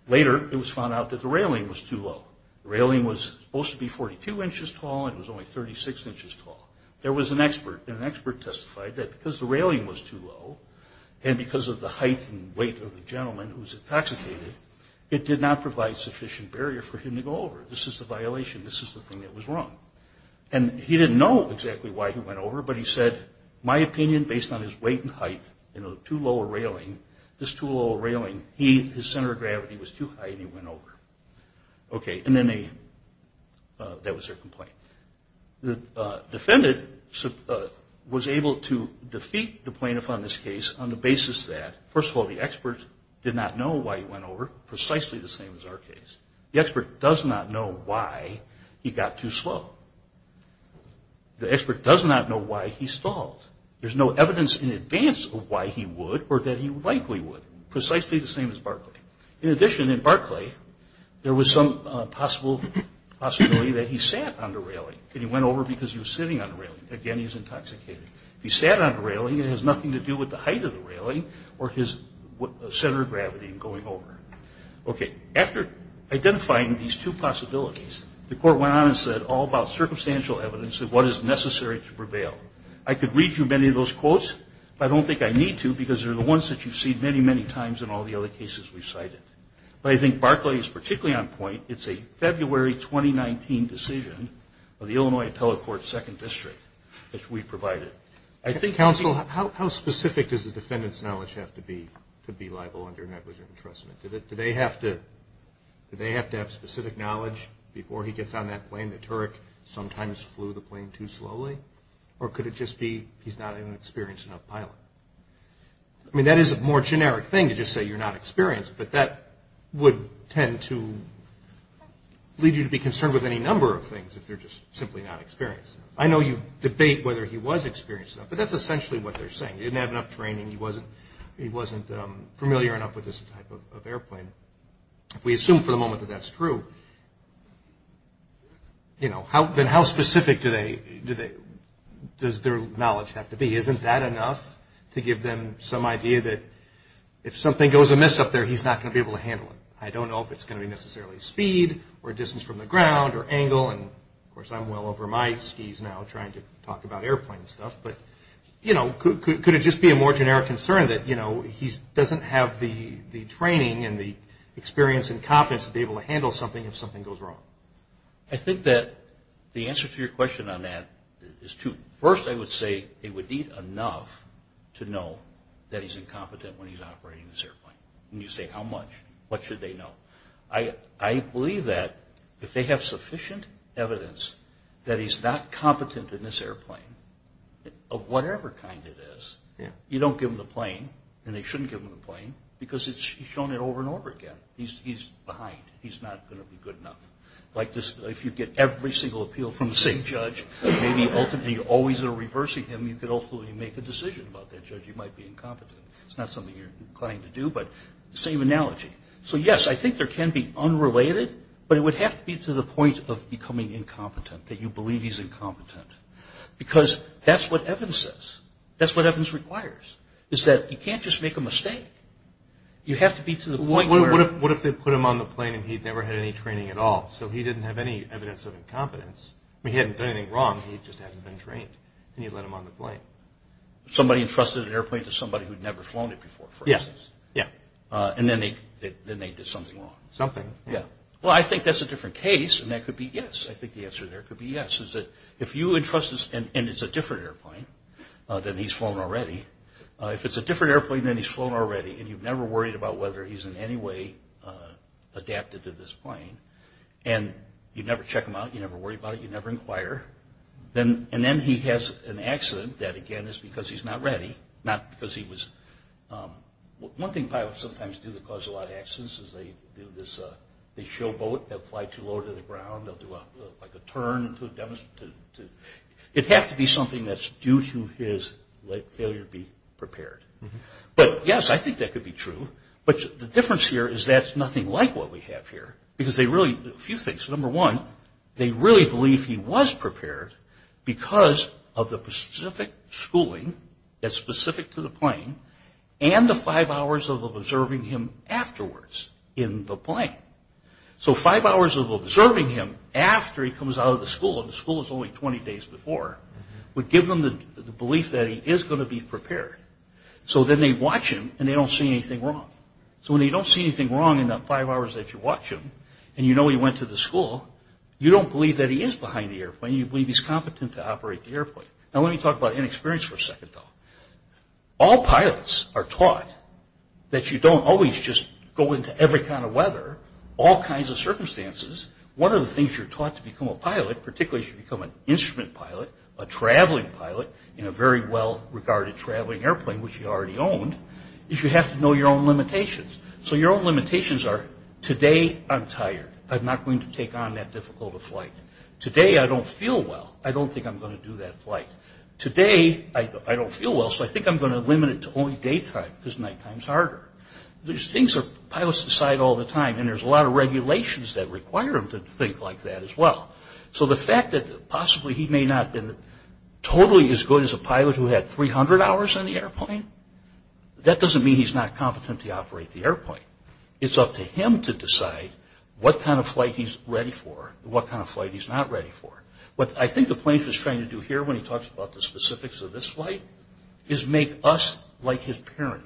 Later, it was found out that the railing was too low. The railing was supposed to be 42 inches tall and it was only 36 inches tall. There was an expert, and an expert testified that because the railing was too low and because of the height and weight of the gentleman who was intoxicated, it did not provide sufficient barrier for him to go over. This is a violation. This is the thing that was wrong. And he didn't know exactly why he went over, but he said, my opinion based on his weight and height and the too low of a railing, this too low of a railing, his center of gravity was too high and he went over. Okay, and then that was their complaint. The defendant was able to defeat the plaintiff on this case on the basis that, first of all, the expert did not know why he went over, precisely the same as our case. The expert does not know why he got too slow. The expert does not know why he stalled. There's no evidence in advance of why he would or that he likely would, precisely the same as Barclay. In addition, in Barclay, there was some possible possibility that he sat on the railing and he went over because he was sitting on the railing. Again, he's intoxicated. If he sat on the railing, it has nothing to do with the height of the railing or his center of gravity and going over. Okay. After identifying these two possibilities, the court went on and said, all about circumstantial evidence of what is necessary to prevail. I could read you many of those quotes, but I don't think I need to because they're the ones that you've seen many, many times in all the other cases we've cited. But I think Barclay is particularly on point. It's a February 2019 decision of the Illinois Appellate Court, Second District, that we provided. I think we need to be. Counsel, how specific does the defendant's knowledge have to be to be liable under negligent entrustment? Do they have to have specific knowledge before he gets on that plane? The Turk sometimes flew the plane too slowly? Or could it just be he's not an experienced enough pilot? I mean, that is a more generic thing to just say you're not experienced, but that would tend to lead you to be concerned with any number of things if you're just simply not experienced enough. I know you debate whether he was experienced enough, but that's essentially what they're saying. He didn't have enough training. He wasn't familiar enough with this type of airplane. If we assume for the moment that that's true, then how specific does their knowledge have to be? Isn't that enough to give them some idea that if something goes amiss up there, he's not going to be able to handle it? I don't know if it's going to be necessarily speed or distance from the ground or angle. Of course, I'm well over my skis now trying to talk about airplane stuff. Could it just be a more generic concern that he doesn't have the training and the experience and competence to be able to handle something if something goes wrong? I think that the answer to your question on that is two. First, I would say they would need enough to know that he's incompetent when he's operating this airplane. When you say how much, what should they know? I believe that if they have sufficient evidence that he's not competent in this airplane, of whatever kind it is, you don't give them the plane, and they shouldn't give them the plane because he's shown it over and over again. He's behind. He's not going to be good enough. If you get every single appeal from the same judge, and you're always reversing him, you could ultimately make a decision about that judge, you might be incompetent. It's not something you're inclined to do, but same analogy. So, yes, I think there can be unrelated, but it would have to be to the point of becoming incompetent, that you believe he's incompetent. Because that's what Evans says. That's what Evans requires, is that you can't just make a mistake. You have to be to the point where... What if they put him on the plane, and he'd never had any training at all? So he didn't have any evidence of incompetence. He hadn't done anything wrong, he just hadn't been trained. And you let him on the plane. Somebody entrusted an airplane to somebody who'd never flown it before, for instance. Yeah. And then they did something wrong. Something, yeah. Well, I think that's a different case, and that could be yes. I think the answer there could be yes, is that if you entrust this, and it's a different airplane than he's flown already, if it's a different airplane than he's flown already, and you've never worried about whether he's in any way adapted to this plane, and you never check him out, you never worry about it, you never inquire, and then he has an accident that, again, is because he's not ready, not because he was... One thing pilots sometimes do that causes a lot of accidents is they do this... It has to be something that's due to his late failure to be prepared. But, yes, I think that could be true, but the difference here is that's nothing like what we have here, because they really do a few things. Number one, they really believe he was prepared because of the specific schooling that's specific to the plane and the five hours of observing him afterwards in the plane. So five hours of observing him after he comes out of the school, and the school is only 20 days before, would give them the belief that he is going to be prepared. So then they watch him, and they don't see anything wrong. So when they don't see anything wrong in the five hours that you watch him, and you know he went to the school, you don't believe that he is behind the airplane, you believe he's competent to operate the airplane. Now let me talk about inexperience for a second, though. All pilots are taught that you don't always just go into every kind of weather or all kinds of circumstances. One of the things you're taught to become a pilot, particularly as you become an instrument pilot, a traveling pilot, in a very well-regarded traveling airplane, which you already owned, is you have to know your own limitations. So your own limitations are, today I'm tired. I'm not going to take on that difficult a flight. Today I don't feel well. I don't think I'm going to do that flight. Today I don't feel well, so I think I'm going to limit it to only daytime, because nighttime is harder. Pilots decide all the time, and there's a lot of regulations that require them to think like that as well. So the fact that possibly he may not have been totally as good as a pilot who had 300 hours on the airplane, that doesn't mean he's not competent to operate the airplane. It's up to him to decide what kind of flight he's ready for and what kind of flight he's not ready for. What I think the plane is trying to do here, when he talks about the specifics of this flight, is make us like his parent,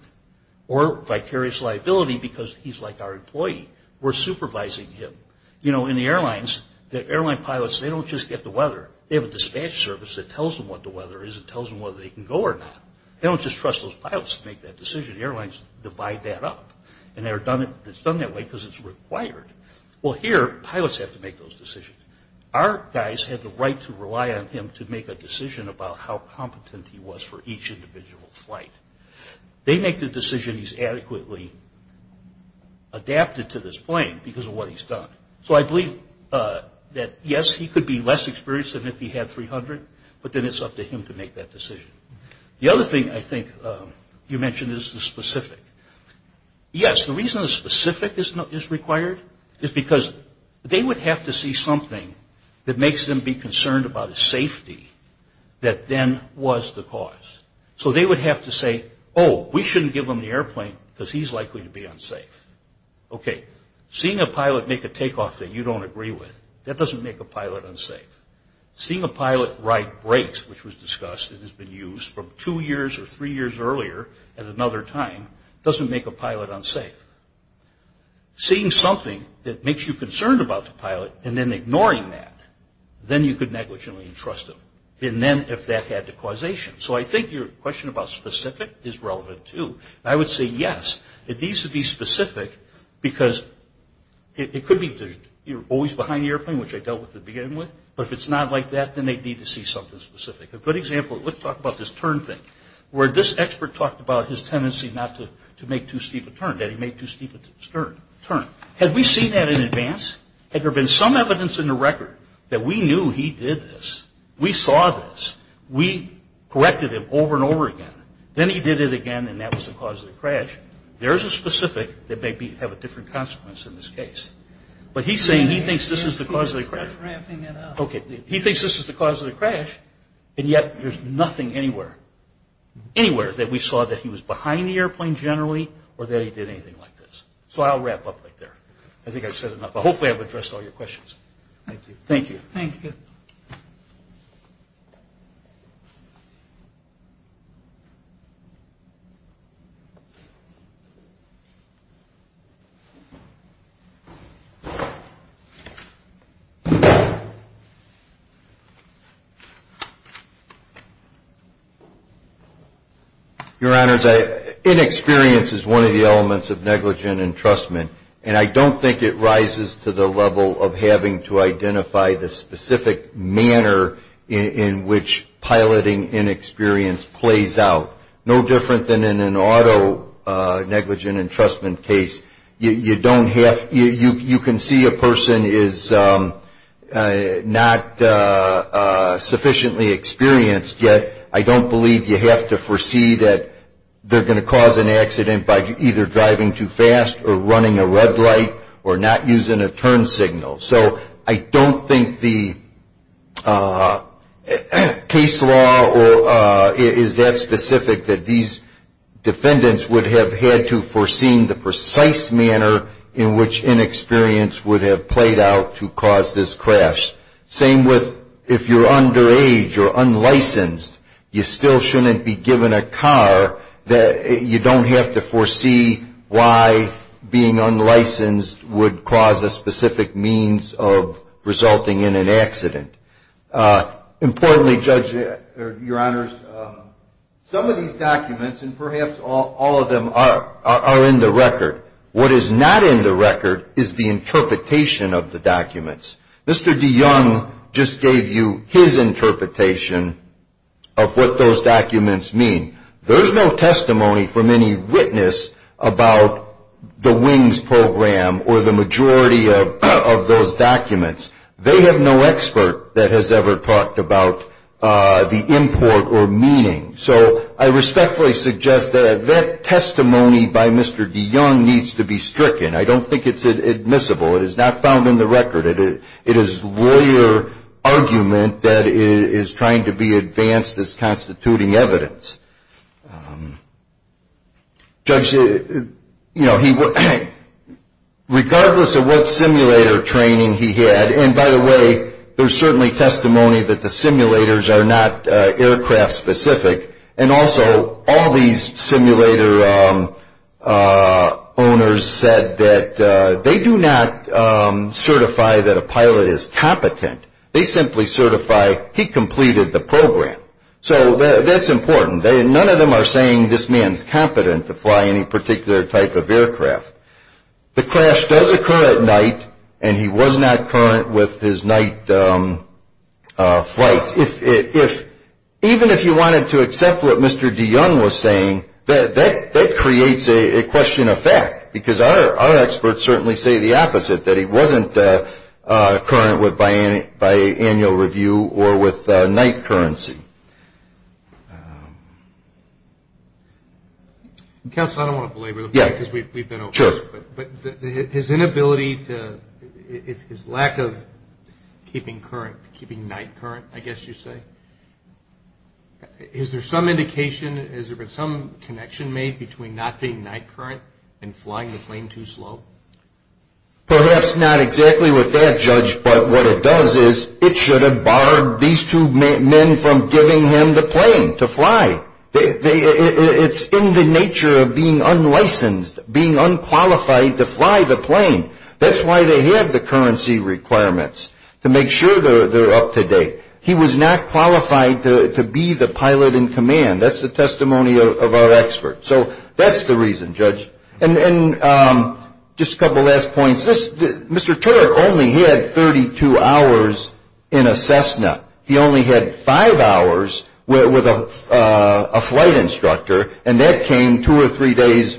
or vicarious liability because he's like our employee. We're supervising him. You know, in the airlines, the airline pilots, they don't just get the weather. They have a dispatch service that tells them what the weather is and tells them whether they can go or not. They don't just trust those pilots to make that decision. The airlines divide that up, and it's done that way because it's required. Well, here, pilots have to make those decisions. Our guys have the right to rely on him to make a decision about how competent he was for each individual flight. They make the decision he's adequately adapted to this plane because of what he's done. So I believe that, yes, he could be less experienced than if he had 300, but then it's up to him to make that decision. The other thing I think you mentioned is the specific. Yes, the reason the specific is required is because they would have to see something that makes them be concerned about a safety that then was the cause. So they would have to say, oh, we shouldn't give him the airplane because he's likely to be unsafe. Okay, seeing a pilot make a takeoff that you don't agree with, that doesn't make a pilot unsafe. Seeing a pilot ride brakes, which was discussed and has been used from two years or three years earlier at another time doesn't make a pilot unsafe. Seeing something that makes you concerned about the pilot and then ignoring that, then you could negligently entrust him, and then if that had the causation. So I think your question about specific is relevant, too. I would say, yes, it needs to be specific because it could be you're always behind the airplane, which I dealt with at the beginning, but if it's not like that, then they'd need to see something specific. A good example, let's talk about this turn thing, where this expert talked about his tendency not to make too steep a turn, that he made too steep a turn. Had we seen that in advance? Had there been some evidence in the record that we knew he did this? We saw this. We corrected him over and over again. Then he did it again, and that was the cause of the crash. There's a specific that may have a different consequence in this case. But he's saying he thinks this is the cause of the crash. Okay, he thinks this is the cause of the crash, and yet there's nothing anywhere, anywhere that we saw that he was behind the airplane generally or that he did anything like this. So I'll wrap up right there. I think I've said enough. Hopefully I've addressed all your questions. Thank you. Thank you. Your Honors, inexperience is one of the elements of negligent entrustment, and I don't think it rises to the level of having to identify the specific manner in which piloting inexperience plays out. No different than in an auto negligent entrustment case. You don't have – you can see a person is not sufficiently experienced, yet I don't believe you have to foresee that they're going to cause an accident by either driving too fast or running a red light or not using a turn signal. So I don't think the case law is that specific that these defendants would have had to foresee the precise manner in which inexperience would have played out to cause this crash. Same with if you're underage or unlicensed, you still shouldn't be given a car. You don't have to foresee why being unlicensed would cause a specific means of resulting in an accident. Importantly, Judge, Your Honors, some of these documents, and perhaps all of them, are in the record. What is not in the record is the interpretation of the documents. Mr. DeYoung just gave you his interpretation of what those documents mean. There's no testimony from any witness about the WINGS program or the majority of those documents. They have no expert that has ever talked about the import or meaning. So I respectfully suggest that that testimony by Mr. DeYoung needs to be stricken. I don't think it's admissible. It is not found in the record. It is lawyer argument that is trying to be advanced as constituting evidence. Judge, regardless of what simulator training he had, and by the way, there's certainly testimony that the simulators are not aircraft specific, and also all these simulator owners said that they do not certify that a pilot is competent. They simply certify he completed the program. So that's important. None of them are saying this man's competent to fly any particular type of aircraft. The crash does occur at night, and he was not current with his night flights. Even if you wanted to accept what Mr. DeYoung was saying, that creates a question of fact, because our experts certainly say the opposite, that he wasn't current with biannual review or with night currency. Counsel, I don't want to belabor the point because we've been over this, but his inability to, his lack of keeping night current, I guess you'd say. Is there some indication, has there been some connection made between not being night current and flying the plane too slow? Perhaps not exactly with that, Judge, but what it does is it should have barred these two men from giving him the plane to fly. It's in the nature of being unlicensed, being unqualified to fly the plane. That's why they have the currency requirements, to make sure they're up to date. He was not qualified to be the pilot in command. That's the testimony of our expert. So that's the reason, Judge. And just a couple last points. Mr. Taylor only had 32 hours in a Cessna. He only had five hours with a flight instructor, and that came two or three days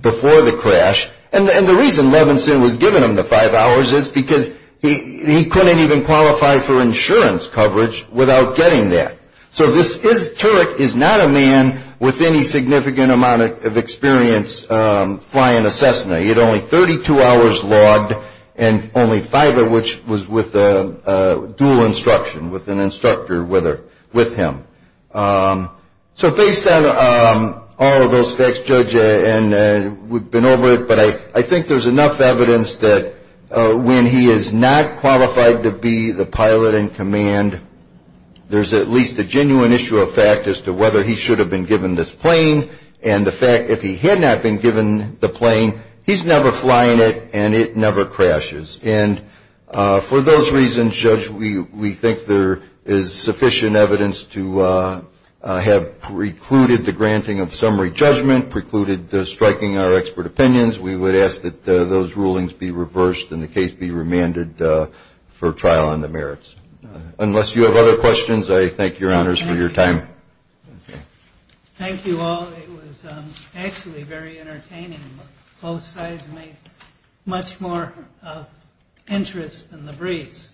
before the crash. And the reason Levinson was giving him the five hours is because he couldn't even qualify for insurance coverage without getting that. So Turek is not a man with any significant amount of experience flying a Cessna. He had only 32 hours logged and only five of which was with a dual instruction, with an instructor with him. So based on all of those facts, Judge, and we've been over it, but I think there's enough evidence that when he is not qualified to be the pilot in command, there's at least a genuine issue of fact as to whether he should have been given this plane, and the fact if he had not been given the plane, he's never flying it and it never crashes. And for those reasons, Judge, we think there is sufficient evidence to have precluded the granting of summary judgment, precluded striking our expert opinions. We would ask that those rulings be reversed and the case be remanded for trial on the merits. Unless you have other questions, I thank your honors for your time. Thank you all. It was actually very entertaining. Both sides made much more of interest in the briefs. Thank you.